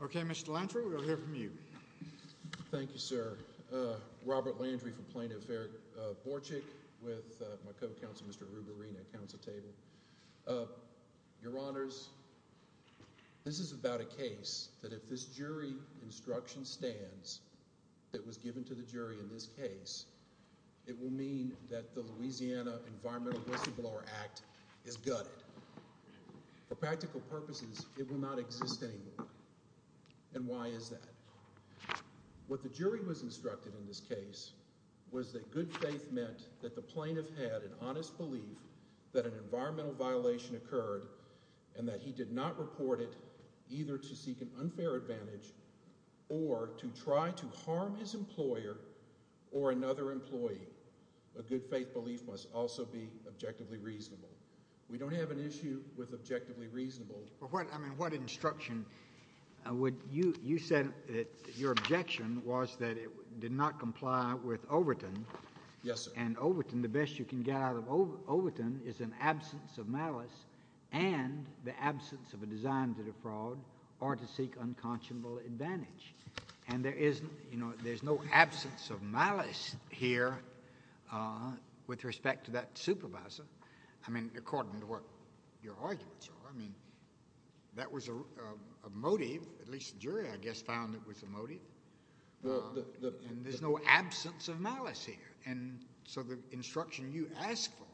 Okay, Mr. Landry, we'll hear from you. Thank you, sir. Robert Landry from Plaintiff Fair Borcik with my co-counsel, Mr. Rubarino, at council table. Your Honors, this is about a case that if this jury instruction stands that was given to the jury in this case, it will mean that the Louisiana Environmental Whistleblower Act is gutted. For practical purposes, it will not exist anymore. And why is that? What the jury was instructed in this case was that good faith meant that the plaintiff had an honest belief that an environmental violation occurred and that he did not report it either to seek an unfair advantage or to try to harm his employer or another employee. A good faith belief must also be objectively reasonable. We don't have an issue with objectively reasonable. I mean, what instruction? You said that your objection was that it did not comply with Overton. Yes, sir. And Overton, the best you can get out of Overton is an absence of malice and the absence of a design to defraud or to seek unconscionable advantage. And there is, you know, there's no absence of malice here with respect to that supervisor. I mean, according to what your arguments are, I mean, that was a motive, at least the jury I guess found it was a motive, and there's no absence of malice here. And so the instruction you asked for,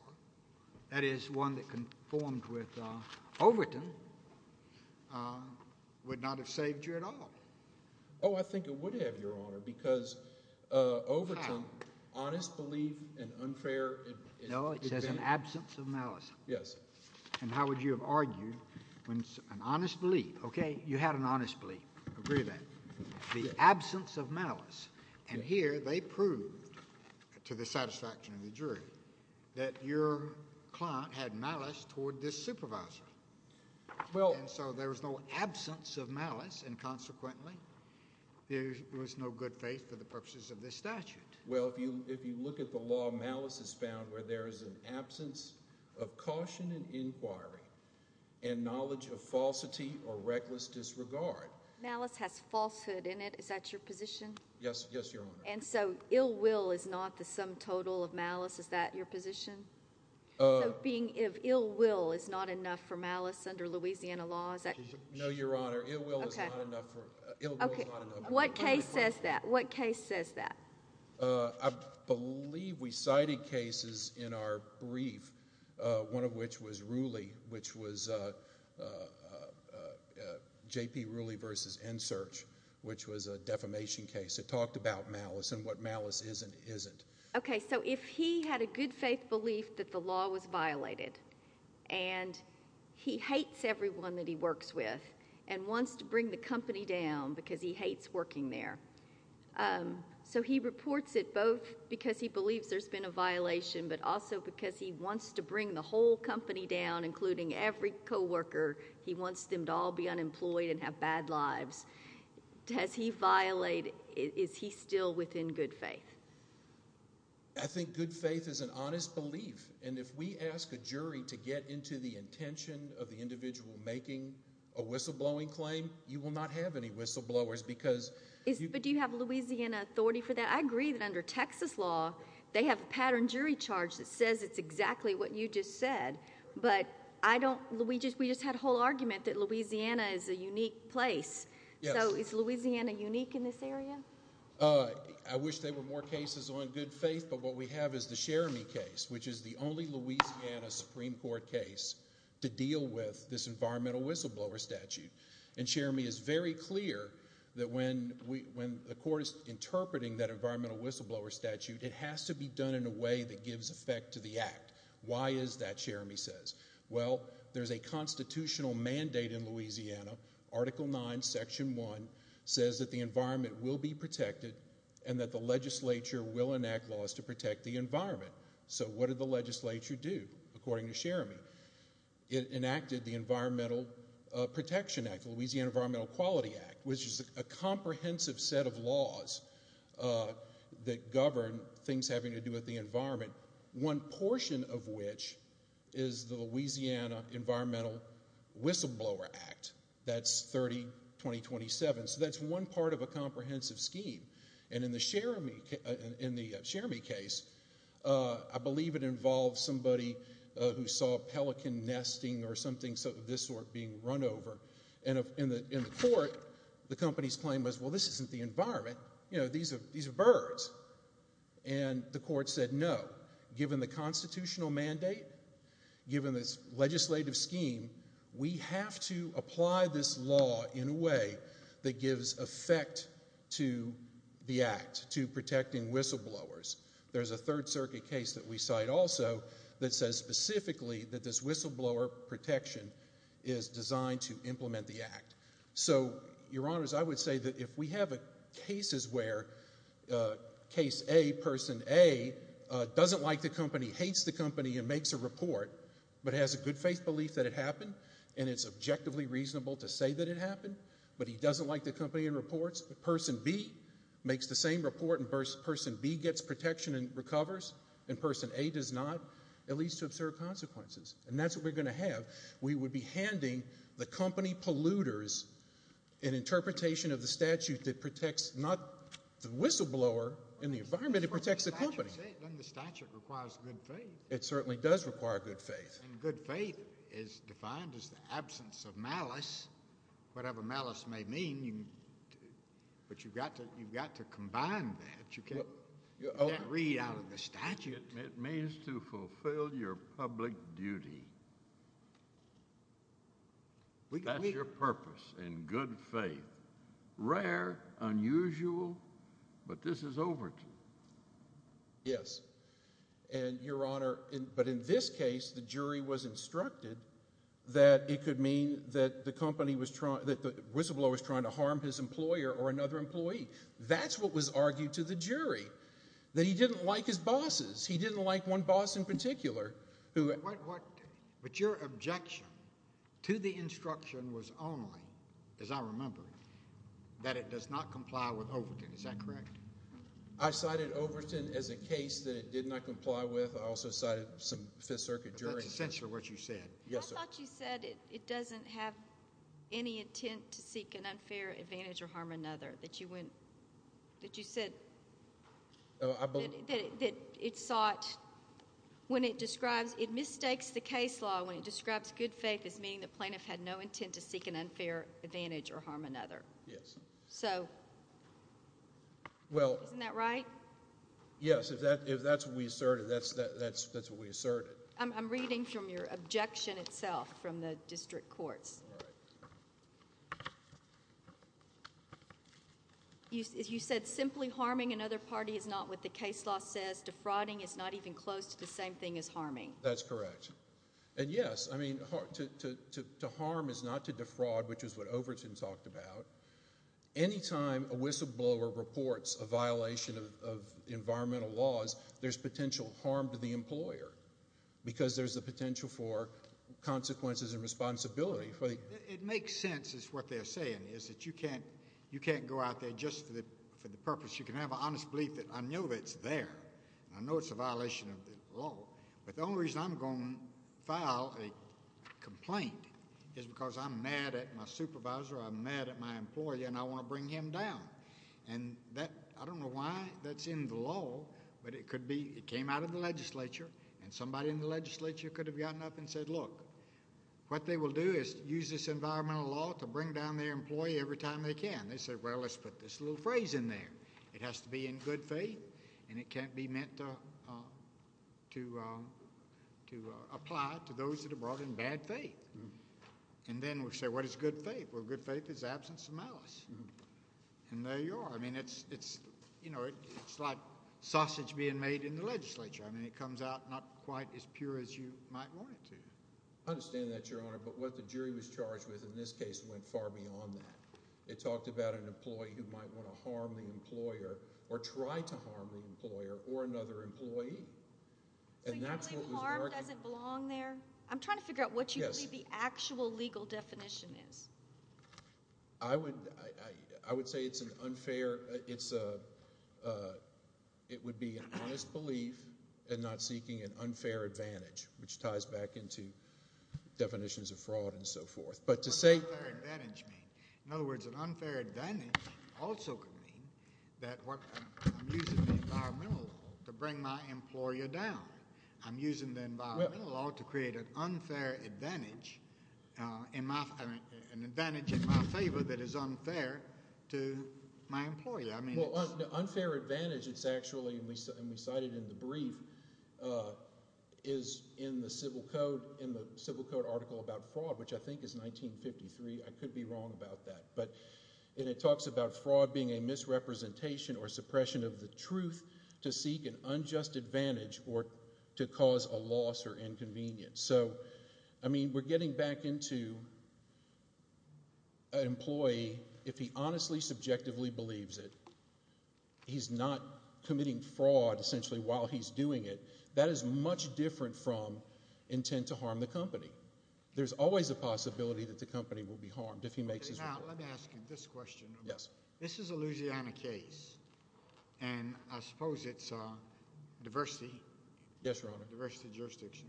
that is one that conformed with Overton, would not have saved you at all. Oh, I think it would have, Your Honor, because Overton, honest belief and unfair advantage. No, it says an absence of malice. Yes. And how would you have argued when an honest belief, okay, you had an honest belief, agree with that, the absence of malice, and here they proved, to the satisfaction of the jury, that your client had malice toward this supervisor. And so there was no absence of malice, and consequently, there was no good faith for the purposes of this statute. Well, if you look at the law, malice is found where there is an absence of caution and inquiry and knowledge of falsity or reckless disregard. Malice has falsehood in it. Is that your position? Yes. Yes, Your Honor. And so, ill will is not the sum total of malice, is that your position? So, being if ill will is not enough for malice under Louisiana law, is that? No, Your Honor, ill will is not enough for, ill will is not enough. What case says that? What case says that? I believe we cited cases in our brief, one of which was Rooley, which was J.P. Rooley versus NSEARCH, which was a defamation case that talked about malice and what malice is and isn't. Okay, so if he had a good faith belief that the law was violated, and he hates everyone that he works with and wants to bring the company down because he hates working there, so he reports it both because he believes there's been a violation, but also because he wants to bring the whole company down, including every coworker. He wants them to all be unemployed and have bad lives. Does he violate, is he still within good faith? I think good faith is an honest belief, and if we ask a jury to get into the intention of the individual making a whistleblowing claim, you will not have any whistleblowers because... But do you have Louisiana authority for that? I agree that under Texas law, they have a pattern jury charge that says it's exactly what you just said, but I don't, we just had a whole argument that Louisiana is a unique place. Yes. So is Louisiana unique in this area? I wish there were more cases on good faith, but what we have is the Cherami case, which is the only Louisiana Supreme Court case to deal with this environmental whistleblower statute. And Cherami is very clear that when the court is interpreting that environmental whistleblower statute, it has to be done in a way that gives effect to the act. Why is that, Cherami says? Well, there's a constitutional mandate in Louisiana, Article 9, Section 1, says that the environment will be protected and that the legislature will enact laws to protect the environment. So what did the legislature do, according to Cherami? It enacted the Environmental Protection Act, the Louisiana Environmental Quality Act, which is a comprehensive set of laws that govern things having to do with the environment, one portion of which is the Louisiana Environmental Whistleblower Act. That's 30-2027. So that's one part of a comprehensive scheme. And in the Cherami case, I believe it involved somebody who saw a pelican nesting or something of this sort being run over. And in the court, the company's claim was, well, this isn't the environment, you know, these are birds. And the court said no. Given the constitutional mandate, given this legislative scheme, we have to apply this the Act to protecting whistleblowers. There's a Third Circuit case that we cite also that says specifically that this whistleblower protection is designed to implement the Act. So, Your Honors, I would say that if we have cases where Case A, Person A, doesn't like the company, hates the company, and makes a report, but has a good faith belief that it happened, and it's objectively reasonable to say that it happened, but he doesn't like the company and reports, Person B makes the same report, and Person B gets protection and recovers, and Person A does not, at least to observe consequences. And that's what we're going to have. We would be handing the company polluters an interpretation of the statute that protects not the whistleblower in the environment, it protects the company. But that's what the statute said. Doesn't the statute require good faith? It certainly does require good faith. And good faith is defined as the absence of malice. Whatever malice may mean, but you've got to combine that. You can't read out of the statute. It means to fulfill your public duty. That's your purpose, in good faith. Rare, unusual, but this is over to you. Yes. And, Your Honor, but in this case, the jury was instructed that it could mean that the whistleblower was trying to harm his employer or another employee. That's what was argued to the jury, that he didn't like his bosses. He didn't like one boss in particular. But your objection to the instruction was only, as I remember, that it does not comply with Overton. Is that correct? I cited Overton as a case that it did not comply with. I also cited some Fifth Circuit jury. But that's essentially what you said. Yes, sir. I thought you said it doesn't have any intent to seek an unfair advantage or harm another. That you went, that you said, that it sought, when it describes, it mistakes the case law when it describes good faith as meaning the plaintiff had no intent to seek an unfair advantage or harm another. Yes. So. Well. Isn't that right? Yes. If that's what we asserted, that's what we asserted. I'm reading from your objection itself from the district courts. You said simply harming another party is not what the case law says, defrauding is not even close to the same thing as harming. That's correct. And yes, I mean, to harm is not to defraud, which is what Overton talked about. Anytime a whistleblower reports a violation of environmental laws, there's potential harm to the employer because there's a potential for consequences and responsibility. It makes sense is what they're saying is that you can't, you can't go out there just for the purpose. You can have an honest belief that I know that it's there and I know it's a violation of the law. But the only reason I'm going to file a complaint is because I'm mad at my supervisor, I'm mad at my employer, and I want to bring him down. And that, I don't know why that's in the law, but it could be. It came out of the legislature and somebody in the legislature could have gotten up and said, look, what they will do is use this environmental law to bring down their employee every time they can. They said, well, let's put this little phrase in there. It has to be in good faith and it can't be meant to, uh, to, uh, to, uh, apply to those that are brought in bad faith. And then we'll say, what is good faith? Well, good faith is absence of malice. And there you are. I mean, it's, it's, you know, it's like sausage being made in the legislature. I mean, it comes out not quite as pure as you might want it to. I understand that, Your Honor, but what the jury was charged with in this case went far beyond that. It talked about an employee who might want to harm the employer or try to harm the employer or another employee. So you're saying harm doesn't belong there? I'm trying to figure out what you believe the actual legal definition is. I would, I, I, I would say it's an unfair, it's a, uh, it would be an honest belief and not seeking an unfair advantage, which ties back into definitions of fraud and so forth. But to say... What does unfair advantage mean? In other words, an unfair advantage also could mean that what, I'm using the environmental law to bring my employer down. I'm using the environmental law to create an unfair advantage, uh, in my, an advantage in my favor that is unfair to my employer. I mean, it's... Well, unfair advantage, it's actually, and we cited in the brief, uh, is in the civil code, in the civil code article about fraud, which I think is 1953, I could be wrong about that. But, and it talks about fraud being a misrepresentation or suppression of the truth to seek an unjust advantage or to cause a loss or inconvenience. So, I mean, we're getting back into an employee, if he honestly, subjectively believes it, he's not committing fraud, essentially, while he's doing it, that is much different from intent to harm the company. There's always a possibility that the company will be harmed if he makes his... Now, let me ask you this question. Yes. This is a Louisiana case, and I suppose it's, uh, diversity. Yes, Your Honor. Diversity jurisdiction.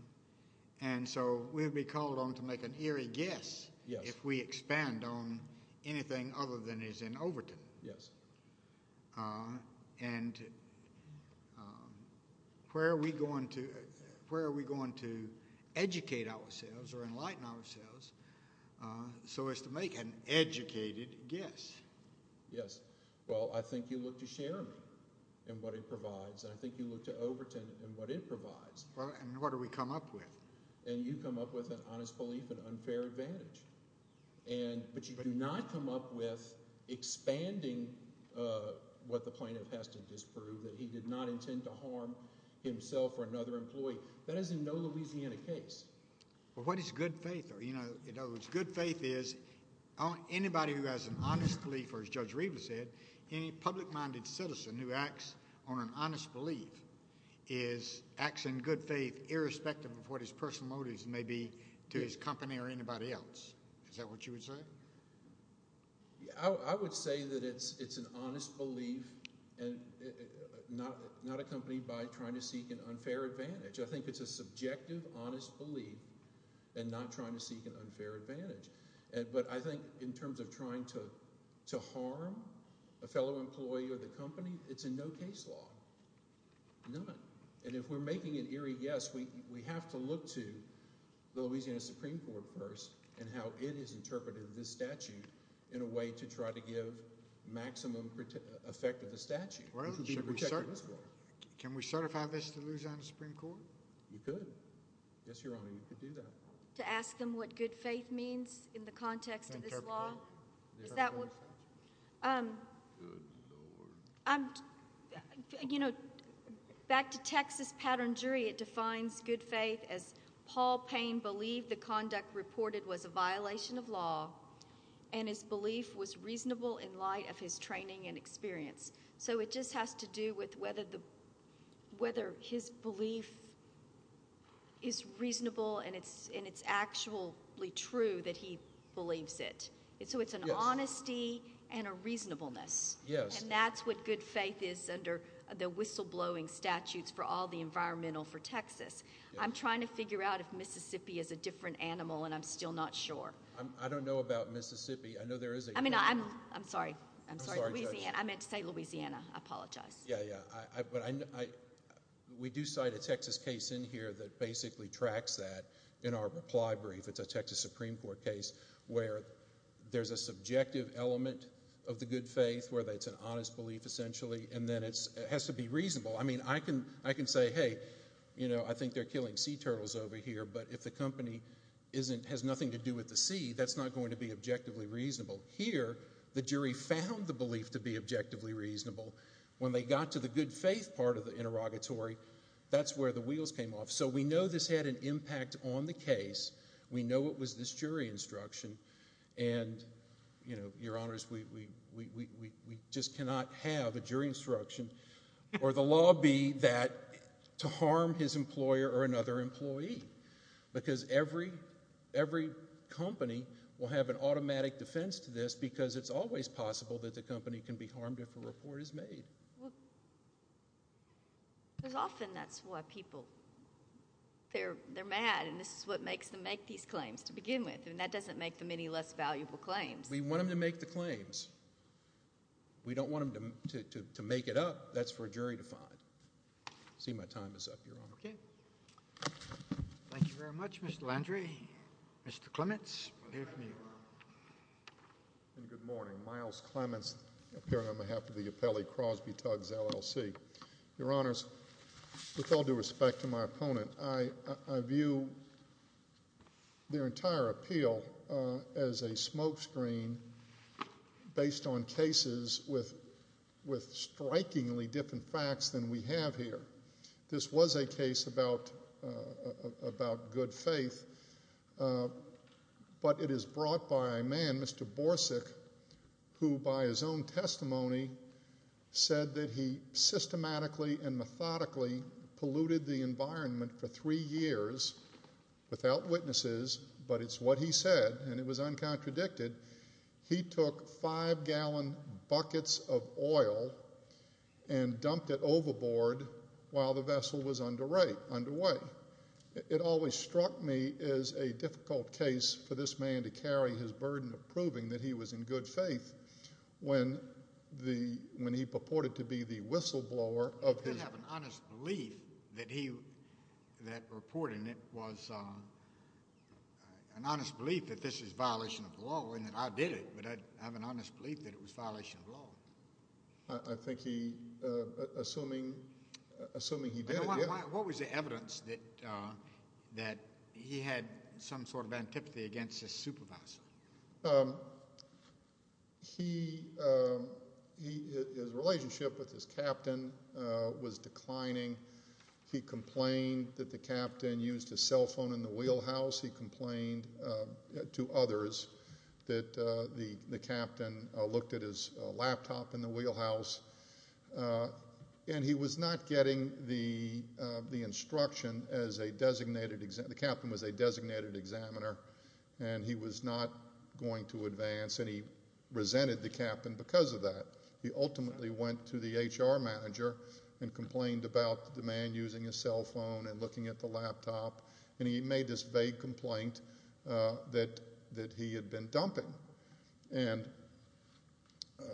And so, we would be called on to make an eerie guess if we expand on anything other than is in Overton. Yes. Uh, and, um, where are we going to, where are we going to educate ourselves or enlighten ourselves, uh, so as to make an educated guess? Yes. Well, I think you look to Sherman and what it provides, and I think you look to Overton and what it provides. Well, and what do we come up with? And you come up with an honest belief, an unfair advantage, and, but you do not come up with expanding, uh, what the plaintiff has to disprove, that he did not intend to harm himself or another employee. That is in no Louisiana case. Well, what is good faith? Or, you know, in other words, good faith is, anybody who has an honest belief, or as Judge Riva said, any public-minded citizen who acts on an honest belief is, acts in good faith irrespective of what his personal motives may be to his company or anybody else. Is that what you would say? I would say that it's, it's an honest belief and not, not accompanied by trying to seek an unfair advantage. I think it's a subjective, honest belief and not trying to seek an unfair advantage. And, but I think in terms of trying to, to harm a fellow employee or the company, it's in no case law. None. And if we're making an eerie guess, we, we have to look to Louisiana Supreme Court first and how it has interpreted this statute in a way to try to give maximum effect of the statute. Well, should we, can we certify this to Louisiana Supreme Court? You could. Yes, Your Honor. You could do that. To ask them what good faith means in the context of this law? Is that what? Um, I'm, you know, back to Texas Pattern Jury, it defines good faith as Paul Payne believed the conduct reported was a violation of law and his belief was reasonable in light of his training and experience. So it just has to do with whether the, whether his belief is reasonable and it's, and it's actually true that he believes it. It's, so it's an honesty and a reasonableness and that's what good faith is under the whistleblowing statutes for all the environmental for Texas. I'm trying to figure out if Mississippi is a different animal and I'm still not sure. I don't know about Mississippi. I know there is a, I mean, I'm, I'm sorry, I'm sorry, Louisiana. I meant to say Louisiana. I apologize. Yeah, yeah. I, but I, I, we do cite a Texas case in here that basically tracks that in our reply brief. It's a Texas Supreme Court case where there's a subjective element of the good faith where that's an honest belief essentially and then it's, it has to be reasonable. I mean, I can, I can say, hey, you know, I think they're killing sea turtles over here, but if the company isn't, has nothing to do with the sea, that's not going to be objectively reasonable. Here, the jury found the belief to be objectively reasonable. When they got to the good faith part of the interrogatory, that's where the wheels came off. So we know this had an impact on the case. We know it was this jury instruction and, you know, your honors, we, we, we, we, we just cannot have a jury instruction or the law be that to harm his employer or another to this because it's always possible that the company can be harmed if a report is made. Well, there's often, that's why people, they're, they're mad and this is what makes them make these claims to begin with and that doesn't make them any less valuable claims. We want them to make the claims. We don't want them to, to, to make it up. That's for a jury to find. See my time is up, your honor. Okay. Thank you very much, Mr. Landry. Mr. Clements. Good morning, Miles Clements appearing on behalf of the appellee Crosby, Tuggs LLC. Your honors, with all due respect to my opponent, I, I view their entire appeal as a smokescreen based on cases with, with strikingly different facts than we have here. This was a case about, about good faith, but it is brought by a man, Mr. Borsig, who by his own testimony said that he systematically and methodically polluted the environment for three years without witnesses, but it's what he said and it was uncontradicted. He took five gallon buckets of oil and dumped it overboard while the vessel was underway. It always struck me as a difficult case for this man to carry his burden of proving that he was in good faith when the, when he purported to be the whistleblower of his. I have an honest belief that he, that reporting it was an honest belief that this is violation of law and that I did it, but I have an honest belief that it was violation of law. I think he, uh, assuming, assuming he did it, what was the evidence that, uh, that he had some sort of antipathy against his supervisor? Um, he, um, he, his relationship with his captain, uh, was declining. He complained that the captain used his cell phone in the wheelhouse. He complained, uh, to others that, uh, the, the captain, uh, looked at his laptop in the wheelhouse, uh, and he was not getting the, uh, the instruction as a designated examiner. The captain was a designated examiner and he was not going to advance and he resented the captain because of that. He ultimately went to the HR manager and complained about the man using his cell phone and looking at the laptop and he made this vague complaint, uh, that, that he had been dumping. And, uh,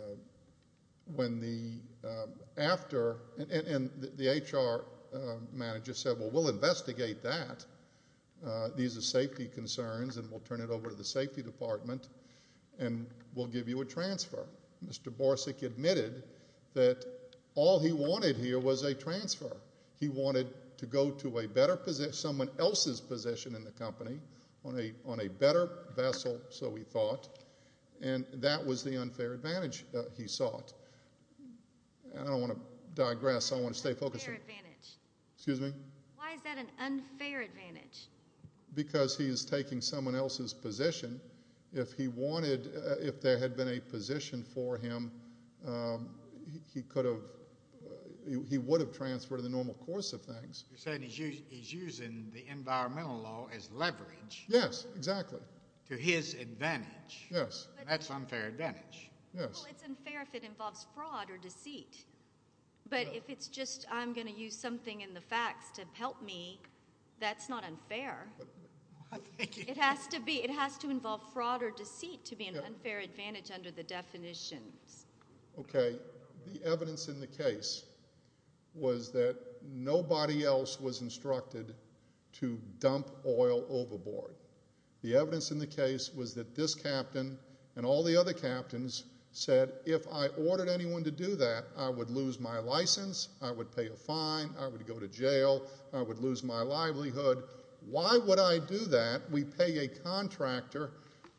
when the, uh, after, and, and the HR, uh, manager said, well, we'll investigate that. Uh, these are safety concerns and we'll turn it over to the safety department and we'll give you a transfer. Mr. Borsig admitted that all he wanted here was a transfer. He wanted to go to a better position, someone else's position in the company on a, on a better vessel, so he thought, and that was the unfair advantage that he sought. I don't want to digress, I want to stay focused. Unfair advantage. Excuse me? Why is that an unfair advantage? Because he is taking someone else's position. If he wanted, uh, if there had been a position for him, um, he, he could have, uh, he would have transferred in the normal course of things. You're saying he's using, he's using the environmental law as leverage. Yes, exactly. To his advantage. Yes. That's unfair advantage. Yes. Well, it's unfair if it involves fraud or deceit, but if it's just, I'm going to use something in the facts to help me, that's not unfair. It has to be, it has to involve fraud or deceit to be an unfair advantage under the definitions. Okay. The evidence in the case was that nobody else was instructed to dump oil overboard. The evidence in the case was that this captain and all the other captains said, if I ordered anyone to do that, I would lose my license, I would pay a fine, I would go to jail, I would lose my livelihood. Why would I do that? We pay a contractor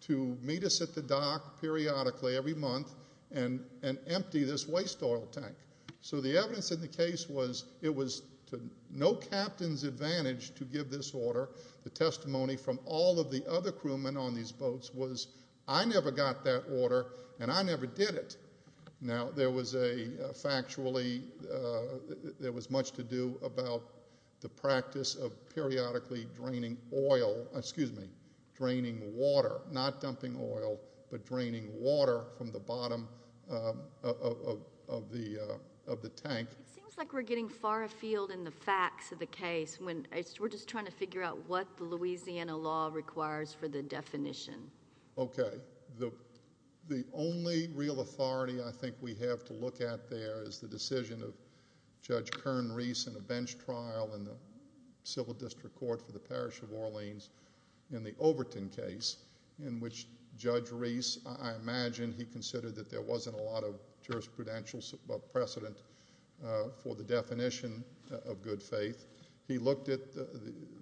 to meet us at the dock periodically every month and, and empty this waste oil tank. So the evidence in the case was, it was to no captain's advantage to give this order. The testimony from all of the other crewmen on these boats was, I never got that order and I never did it. Now there was a, uh, factually, uh, there was much to do about the practice of periodically draining oil, excuse me, draining water, not dumping oil, but draining water from the bottom, um, of, of, of the, uh, of the tank. It seems like we're getting far afield in the facts of the case when it's, we're just trying to figure out what the Louisiana law requires for the definition. Okay. The, the only real authority I think we have to look at there is the decision of Judge Kern Reese in a bench trial in the civil district court for the parish of Orleans in the Overton case in which Judge Reese, I imagine he considered that there wasn't a lot of jurisprudential precedent, uh, for the definition of good faith. He looked at the,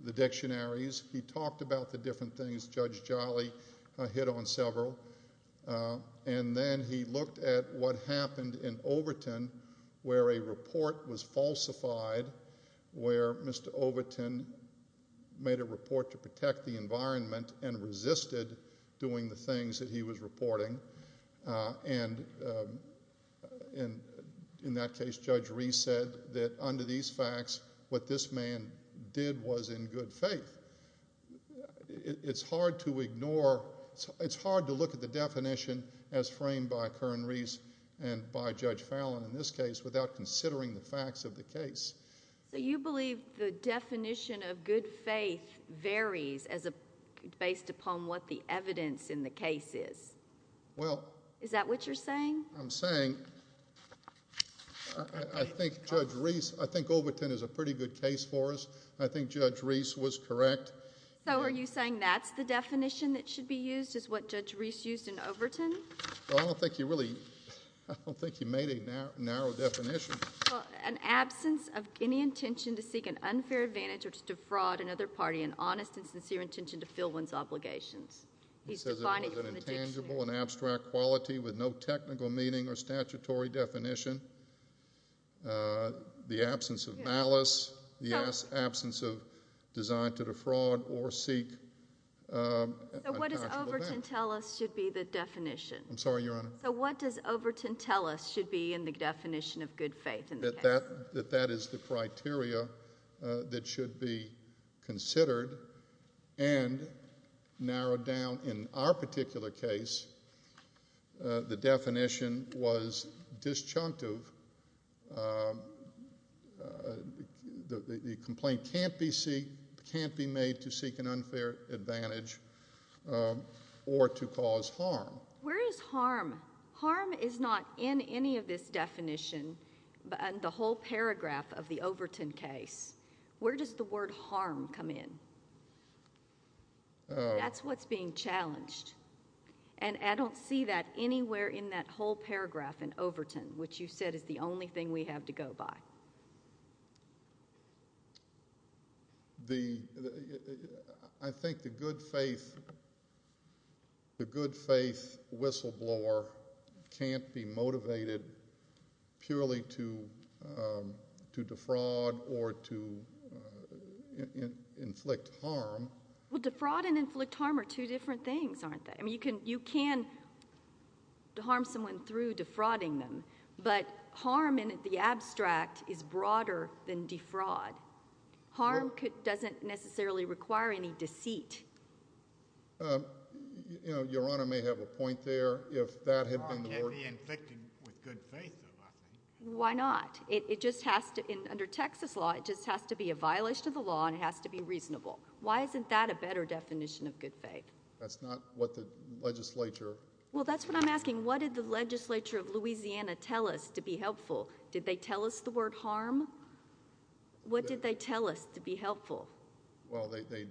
the dictionaries, he talked about the different things Judge Jolly, uh, hit on several, uh, and then he looked at what happened in Overton where a report was falsified, where Mr. Overton made a report to protect the environment and resisted doing the things that he was reporting, uh, and, um, and in that case, Judge Reese said that under these facts, what this man did was in good faith. It's hard to ignore, it's hard to look at the definition as framed by Kern Reese and by Judge Fallon in this case without considering the facts of the case. So you believe the definition of good faith varies as a, based upon what the evidence in the case is? Well. Is that what you're saying? I'm saying, I, I think Judge Reese, I think Overton is a pretty good case for us. I think Judge Reese was correct. So are you saying that's the definition that should be used is what Judge Reese used in Overton? Well, I don't think you really, I don't think you made a narrow definition. Well, an absence of any intention to seek an unfair advantage or to defraud another party, an honest and sincere intention to fill one's obligations. He's defining it from the dictionary. He says it was an intangible and abstract quality with no technical meaning or statutory definition, uh, the absence of malice, the absence of design to defraud or seek, um, an actual advantage. So what does Overton tell us should be the definition? I'm sorry, Your Honor. So what does Overton tell us should be in the definition of good faith in the case? That that is the criteria that should be considered and narrowed down. In our particular case, uh, the definition was disjunctive, um, uh, the complaint can't be seek, can't be made to seek an unfair advantage, um, or to cause harm. Where is harm? Harm is not in any of this definition, but in the whole paragraph of the Overton case. Where does the word harm come in? That's what's being challenged. And I don't see that anywhere in that whole paragraph in Overton, which you said is the I think the good faith, the good faith whistleblower can't be motivated purely to, um, to defraud or to, uh, inflict harm. Well, defraud and inflict harm are two different things, aren't they? I mean, you can, you can harm someone through defrauding them, but harm in the abstract is broader than defraud. Harm doesn't necessarily require any deceit. Um, you know, Your Honor may have a point there. If that had been the word. Harm can't be inflicted with good faith, though, I think. Why not? It just has to, under Texas law, it just has to be a violation of the law and it has to be reasonable. Why isn't that a better definition of good faith? That's not what the legislature. Well that's what I'm asking. What did the legislature of Louisiana tell us to be helpful? Did they tell us the word harm? What did they tell us to be helpful? Well, they, they,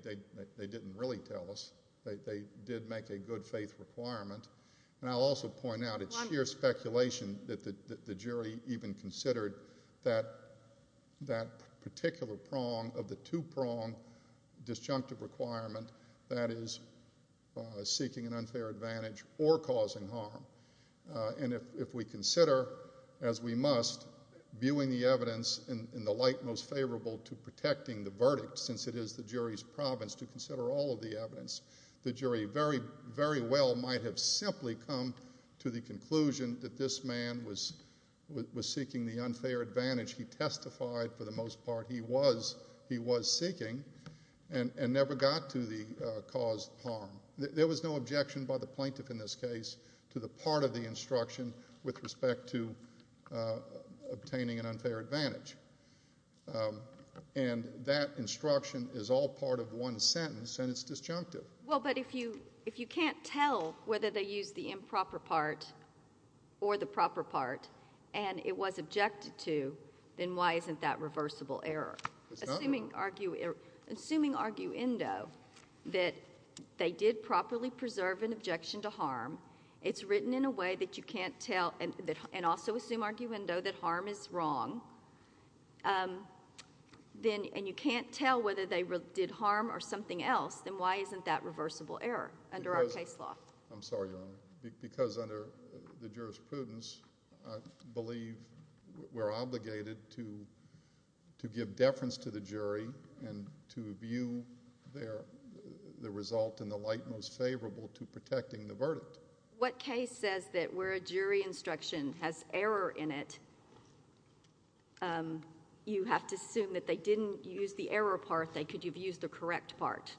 they didn't really tell us. They did make a good faith requirement, and I'll also point out it's sheer speculation that the jury even considered that, that particular prong of the two-prong disjunctive requirement that is seeking an unfair advantage or causing harm, and if we consider, as we must, viewing the evidence in the light most favorable to protecting the verdict, since it is the jury's province to consider all of the evidence, the jury very, very well might have simply come to the conclusion that this man was, was seeking the unfair advantage he testified for the most part he was, he was seeking and, and never got to the cause of harm. There was no objection by the plaintiff in this case to the part of the instruction with respect to obtaining an unfair advantage, and that instruction is all part of one sentence, and it's disjunctive. Well, but if you, if you can't tell whether they used the improper part or the proper part, and it was objected to, then why isn't that reversible error? It's not. Assuming argue, assuming arguendo that they did properly preserve an objection to harm, it's written in a way that you can't tell, and, and also assume arguendo that harm is wrong, um, then, and you can't tell whether they did harm or something else, then why isn't that reversible error under our case law? I'm sorry, Your Honor, because under the jurisprudence, I believe we're obligated to, to give deference to the jury and to view their, the result in the light most favorable to protecting the verdict. What case says that where a jury instruction has error in it, um, you have to assume that they didn't use the error part, they could have used the correct part?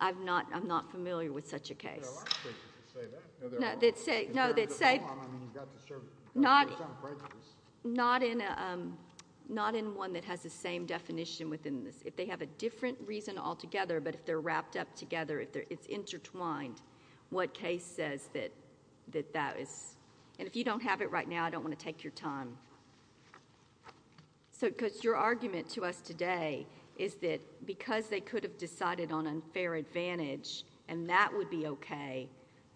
I'm not, I'm not familiar with such a case. There are a lot of cases that say that. No, they say, no, they say, not, not in a, um, not in one that has the same definition within the, if they have a different reason altogether, but if they're wrapped up together, if they're, it's intertwined, what case says that, that that is, and if you don't have it right now, I don't want to take your time. So because your argument to us today is that because they could have decided on unfair advantage and that would be okay,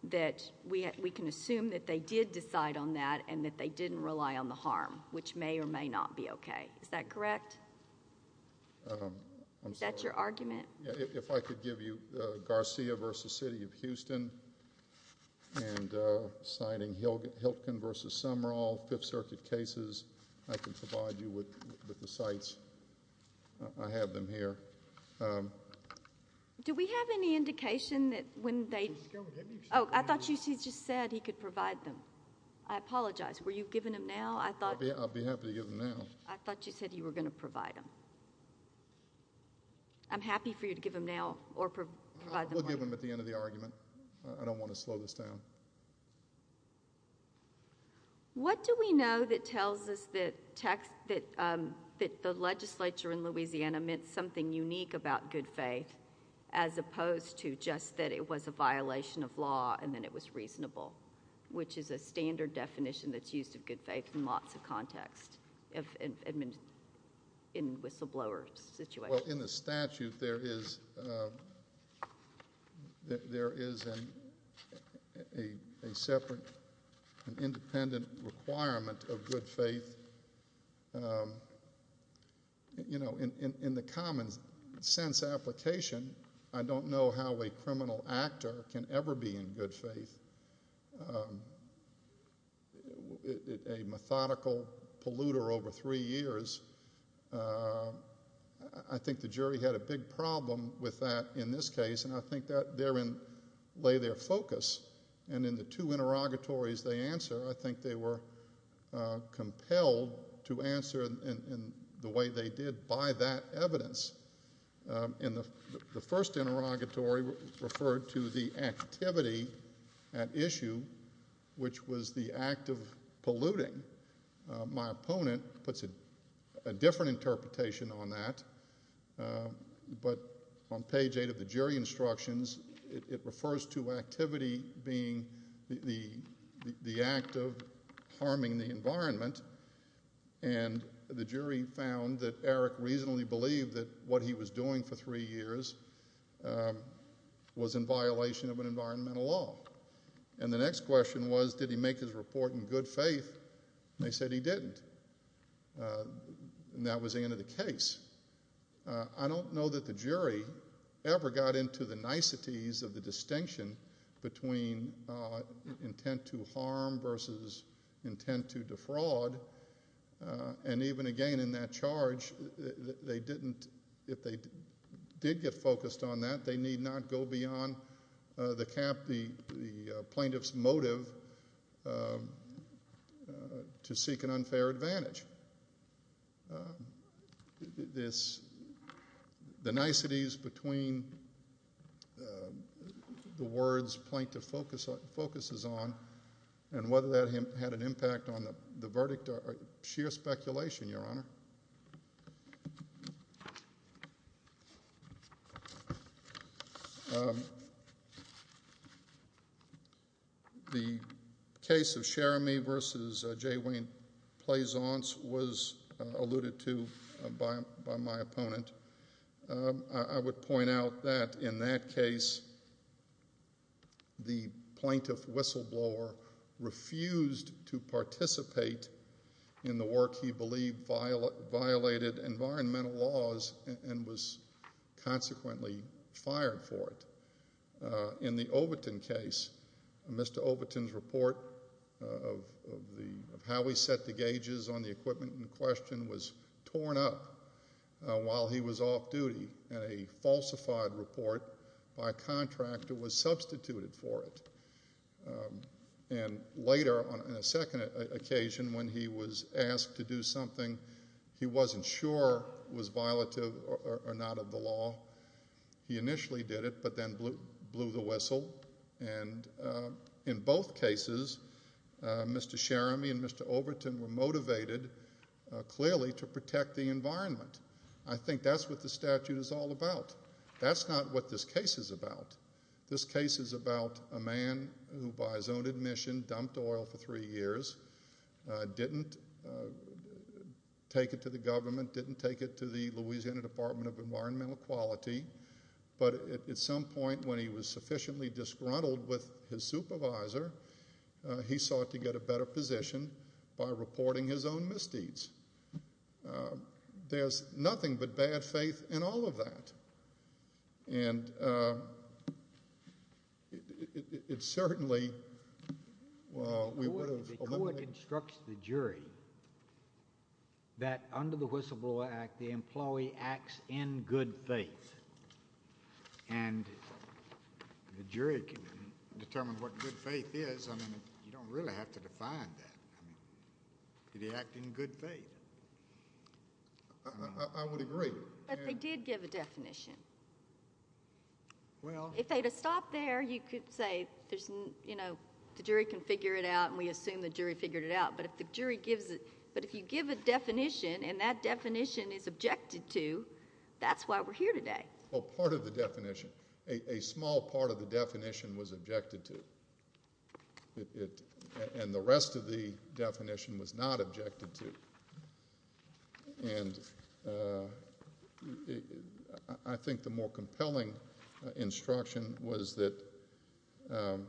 that we, we can assume that they did decide on that and that they didn't rely on the harm, which may or may not be okay. Is that correct? Um, I'm sorry. Is that your argument? Yeah. If I could give you, uh, Garcia v. City of Houston and, uh, citing Hilkin v. Sumrall, Fifth Circuit cases, I can provide you with, with the sites. I have them here. Um. Do we have any indication that when they, oh, I thought you just said he could provide them. I apologize. Were you giving them now? I thought. I'll be, I'll be happy to give them now. I thought you said you were going to provide them. I'm happy for you to give them now or provide them later. We'll give them at the end of the argument. I don't want to slow this down. What do we know that tells us that text, that, um, that the legislature in Louisiana meant something unique about good faith as opposed to just that it was a violation of law and then it was reasonable, which is a standard definition that's used of good faith in lots of contexts, in whistleblower situations. Well, in the statute, there is, um, there is a separate, an independent requirement of good faith, um, you know, in the common sense application, I don't know how a criminal polluter over three years, uh, I think the jury had a big problem with that in this case and I think that therein lay their focus and in the two interrogatories they answer, I think they were, uh, compelled to answer in the way they did by that evidence. Um, in the first interrogatory referred to the activity at issue, which was the act of my opponent puts a different interpretation on that, um, but on page eight of the jury instructions it refers to activity being the act of harming the environment and the jury found that Eric reasonably believed that what he was doing for three years, um, was in violation of an environmental law. And the next question was, did he make his report in good faith? They said he didn't. Uh, and that was the end of the case. Uh, I don't know that the jury ever got into the niceties of the distinction between, uh, intent to harm versus intent to defraud, uh, and even again in that charge, they didn't, if they did get focused on that, they need not go beyond, uh, the camp, the, the plaintiff's motive, um, uh, to seek an unfair advantage. Um, this, the niceties between, um, the words plaintiff focus on, focuses on and whether that had an impact on the verdict or sheer speculation, Your Honor. Um, the case of Cherami versus, uh, J. Wayne Plaisance was, uh, alluded to, uh, by, by my opponent. Um, I, I would point out that in that case, the plaintiff whistleblower refused to participate in the work he believed violated environmental laws and was consequently fired for it. Uh, in the Overton case, Mr. Overton's report of, of the, of how we set the gauges on the equipment in question was torn up, uh, while he was off duty and a falsified report by a contractor was substituted for it. Um, and later on a second occasion when he was asked to do something, he wasn't sure was violative or, or, or not of the law. He initially did it, but then blew, blew the whistle and, uh, in both cases, uh, Mr. Cherami and Mr. Overton were motivated, uh, clearly to protect the environment. I think that's what the statute is all about. That's not what this case is about. This case is about a man who, by his own admission, dumped oil for three years, uh, didn't, uh, take it to the government, didn't take it to the Louisiana Department of Environmental Quality, but at some point when he was sufficiently disgruntled with his supervisor, uh, he sought to get a better position by reporting his own misdeeds. Uh, there's nothing but bad faith in all of that and, uh, it, it, it, it, it certainly, uh, we would have eliminated... The court, the court instructs the jury that under the Whistleblower Act, the employee acts in good faith and the jury can determine what good faith is. I mean, you don't really have to define that. I mean, did he act in good faith? I, I, I would agree and... But they did give a definition. Well... If they'd have stopped there, you could say there's no, you know, the jury can figure it out and we assume the jury figured it out, but if the jury gives it, but if you give a definition and that definition is objected to, that's why we're here today. Well, part of the definition, a, a small part of the definition was objected to. It, it, and the rest of the definition was not objected to. And, uh, I, I think the more compelling instruction was that, um,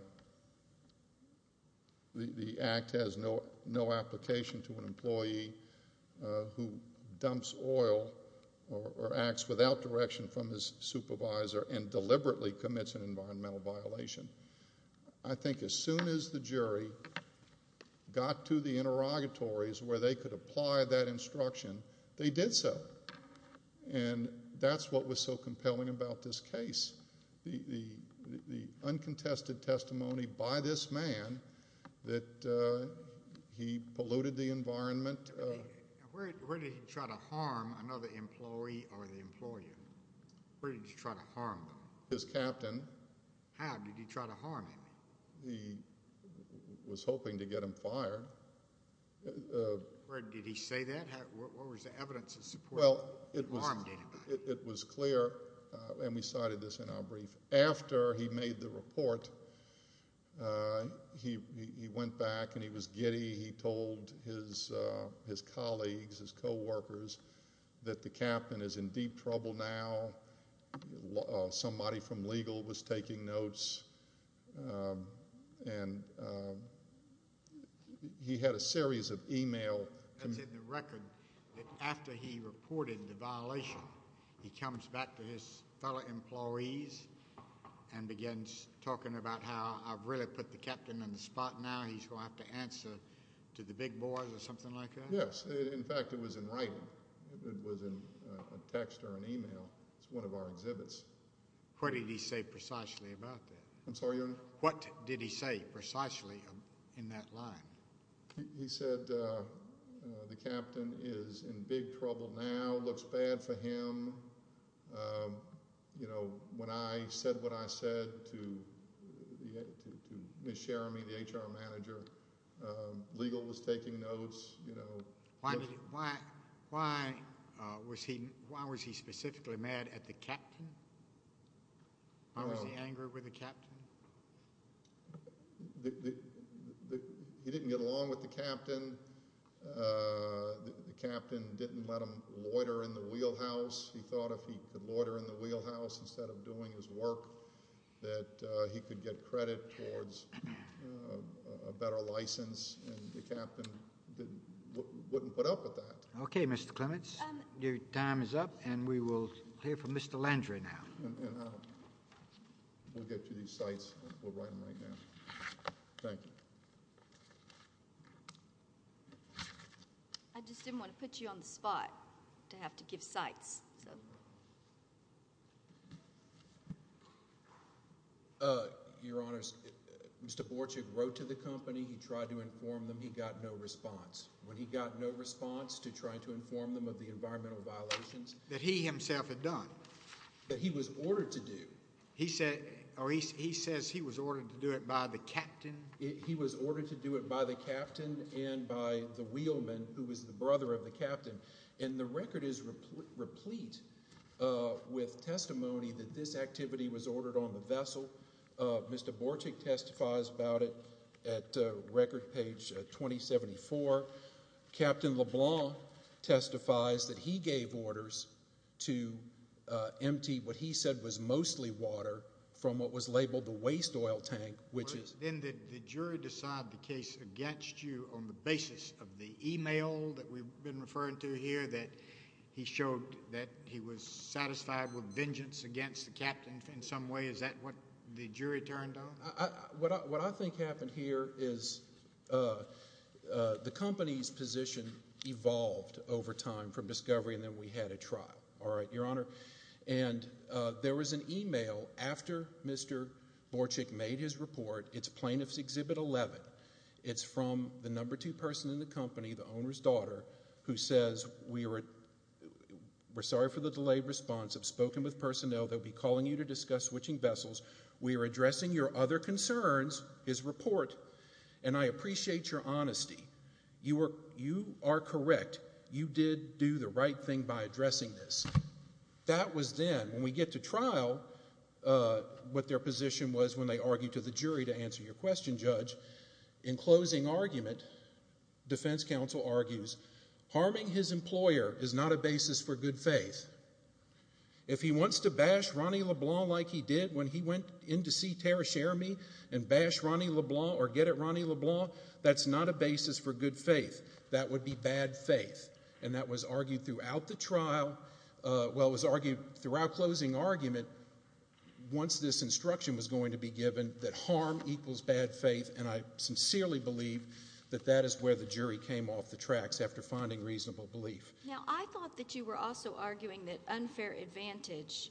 the, the act has no, no application to an employee, uh, who dumps oil or, or acts without direction from his supervisor and deliberately commits an environmental violation. I think as soon as the jury got to the interrogatories where they could apply that instruction, they did so. And that's what was so compelling about this case. The, the, the uncontested testimony by this man that, uh, he polluted the environment. Where, where did he try to harm another employee or the employer? Where did he try to harm them? His captain. How did he try to harm him? He was hoping to get him fired. Uh, uh. Where did he say that? How, what, what was the evidence of support? Well, it was. Harmed anybody? It, it was clear, uh, and we cited this in our brief. After he made the report, uh, he, he, he went back and he was giddy. He told his, uh, his colleagues, his coworkers that the captain is in deep trouble now. Uh, somebody from legal was taking notes. Um, and, um, he had a series of email. That's in the record that after he reported the violation, he comes back to his fellow employees and begins talking about how I've really put the captain on the spot now. He's going to have to answer to the big boys or something like that. Yes. In fact, it was in writing. It was in a text or an email. It's one of our exhibits. What did he say precisely about that? I'm sorry, Your Honor. What did he say precisely in that line? He said, uh, uh, the captain is in big trouble now. Looks bad for him. Um, you know, when I said what I said to, to, to Ms. Cherami, the HR manager, um, legal was taking notes, you know. Why, why, why, uh, was he, why was he specifically mad at the captain? Why was he angry with the captain? The, the, the, he didn't get along with the captain. Uh, the captain didn't let him loiter in the wheelhouse. He thought if he could loiter in the wheelhouse instead of doing his work, that, uh, he could get credit towards, uh, a better license. And the captain didn't, wouldn't put up with that. Okay, Mr. Clements. Um. Your time is up, and we will hear from Mr. Landry now. And, and I'll, we'll get you these cites. We'll write them right now. Thank you. I just didn't want to put you on the spot to have to give cites, so. Uh, Your Honors, Mr. Borchig wrote to the company. He tried to inform them. He got no response. When he got no response to trying to inform them of the environmental violations. That he himself had done. That he was ordered to do. He said, or he, he says he was ordered to do it by the captain. He was ordered to do it by the captain and by the wheelman, who was the brother of the captain. And the record is replete, uh, with testimony that this activity was ordered on the vessel. Uh, Mr. Borchig testifies about it at, uh, record page, uh, 2074. Captain LeBlanc testifies that he gave orders to, uh, empty what he said was mostly water. From what was labeled the waste oil tank, which is. Then did the jury decide the case against you on the basis of the email that we've been referring to here. That he showed that he was satisfied with vengeance against the captain in some way. Is that what the jury turned on? What I, what I think happened here is, uh, uh, the company's position evolved over time from discovery. And then we had a trial. All right, your honor. And, uh, there was an email after Mr. Borchig made his report. It's plaintiff's exhibit 11. It's from the number two person in the company, the owner's daughter. Who says we were, we're sorry for the delayed response. I've spoken with personnel. They'll be calling you to discuss switching vessels. We are addressing your other concerns, his report. And I appreciate your honesty. You were, you are correct. You did do the right thing by addressing this. That was then. When we get to trial, uh, what their position was when they argued to the jury to answer your question, judge. In closing argument, defense counsel argues, harming his employer is not a basis for good faith. If he wants to bash Ronnie LeBlanc like he did when he went in to see Tara Sheremy and bash Ronnie LeBlanc or get at Ronnie LeBlanc, that's not a basis for good faith. That would be bad faith. And that was argued throughout the trial. Uh, well, it was argued throughout closing argument once this instruction was going to be given that harm equals bad faith. And I sincerely believe that that is where the jury came off the tracks after finding reasonable belief. Now, I thought that you were also arguing that unfair advantage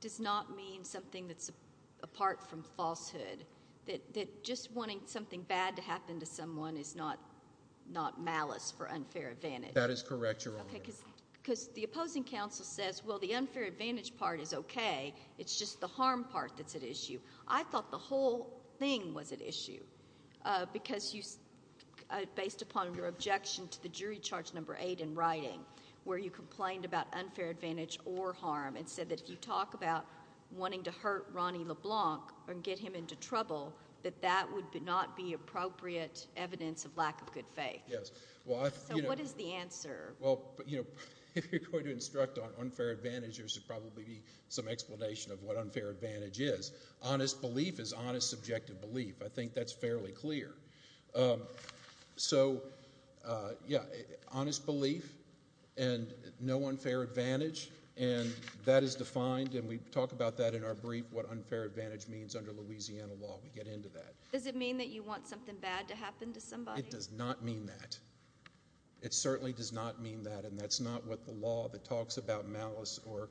does not mean something that's apart from falsehood. That just wanting something bad to happen to someone is not malice for unfair advantage. That is correct, Your Honor. Okay, because the opposing counsel says, well, the unfair advantage part is okay. It's just the harm part that's at issue. I thought the whole thing was at issue because you, based upon your objection to the jury charge number eight in writing, where you complained about unfair advantage or harm and said that if you talk about wanting to hurt Ronnie LeBlanc or get him into trouble, that that would not be appropriate evidence of lack of good faith. So what is the answer? Well, you know, if you're going to instruct on unfair advantage, there should probably be some explanation of what unfair advantage is. Honest belief is honest, subjective belief. I think that's fairly clear. So, yeah, honest belief and no unfair advantage, and that is defined, and we talk about that in our brief, what unfair advantage means under Louisiana law. We get into that. Does it mean that you want something bad to happen to somebody? It does not mean that. It certainly does not mean that, and that's not what the law that talks about malice or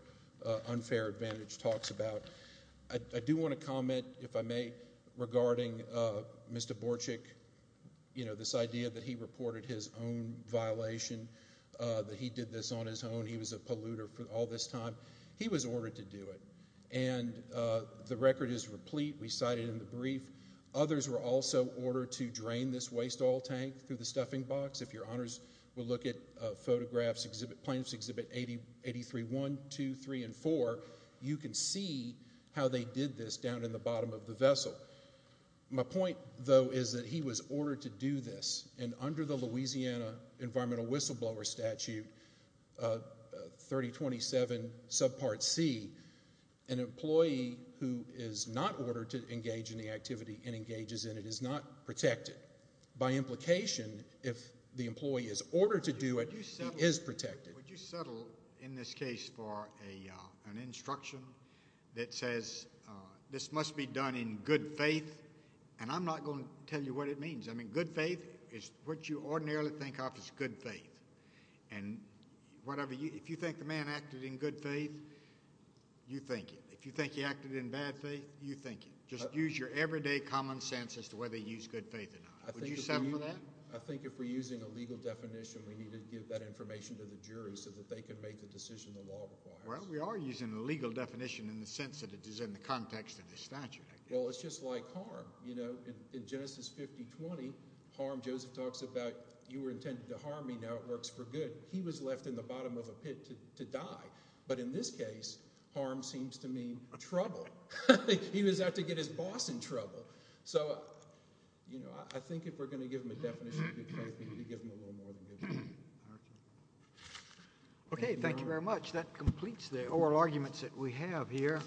unfair advantage talks about. I do want to comment, if I may, regarding Mr. Borchick, you know, this idea that he reported his own violation, that he did this on his own. He was a polluter all this time. He was ordered to do it, and the record is replete. We cite it in the brief. Others were also ordered to drain this waste oil tank through the stuffing box. If your honors will look at photographs, plaintiffs exhibit 83-1, 2, 3, and 4, you can see how they did this down in the bottom of the vessel. My point, though, is that he was ordered to do this, and under the Louisiana Environmental Whistleblower Statute 3027 subpart C, an employee who is not ordered to engage in the activity and engages in it is not protected. By implication, if the employee is ordered to do it, he is protected. Would you settle in this case for an instruction that says this must be done in good faith? And I'm not going to tell you what it means. I mean, good faith is what you ordinarily think of as good faith. If you think the man acted in good faith, you think it. If you think he acted in bad faith, you think it. Just use your everyday common sense as to whether you use good faith or not. Would you settle for that? I think if we're using a legal definition, we need to give that information to the jury so that they can make the decision the law requires. Well, we are using a legal definition in the sense that it is in the context of the statute, I guess. Well, it's just like harm. In Genesis 5020, harm, Joseph talks about you were intended to harm me. Now it works for good. He was left in the bottom of a pit to die. But in this case, harm seems to mean trouble. He was out to get his boss in trouble. So I think if we're going to give him a definition of good faith, we need to give him a little more than good faith. Okay, thank you very much. That completes the oral arguments that we have here.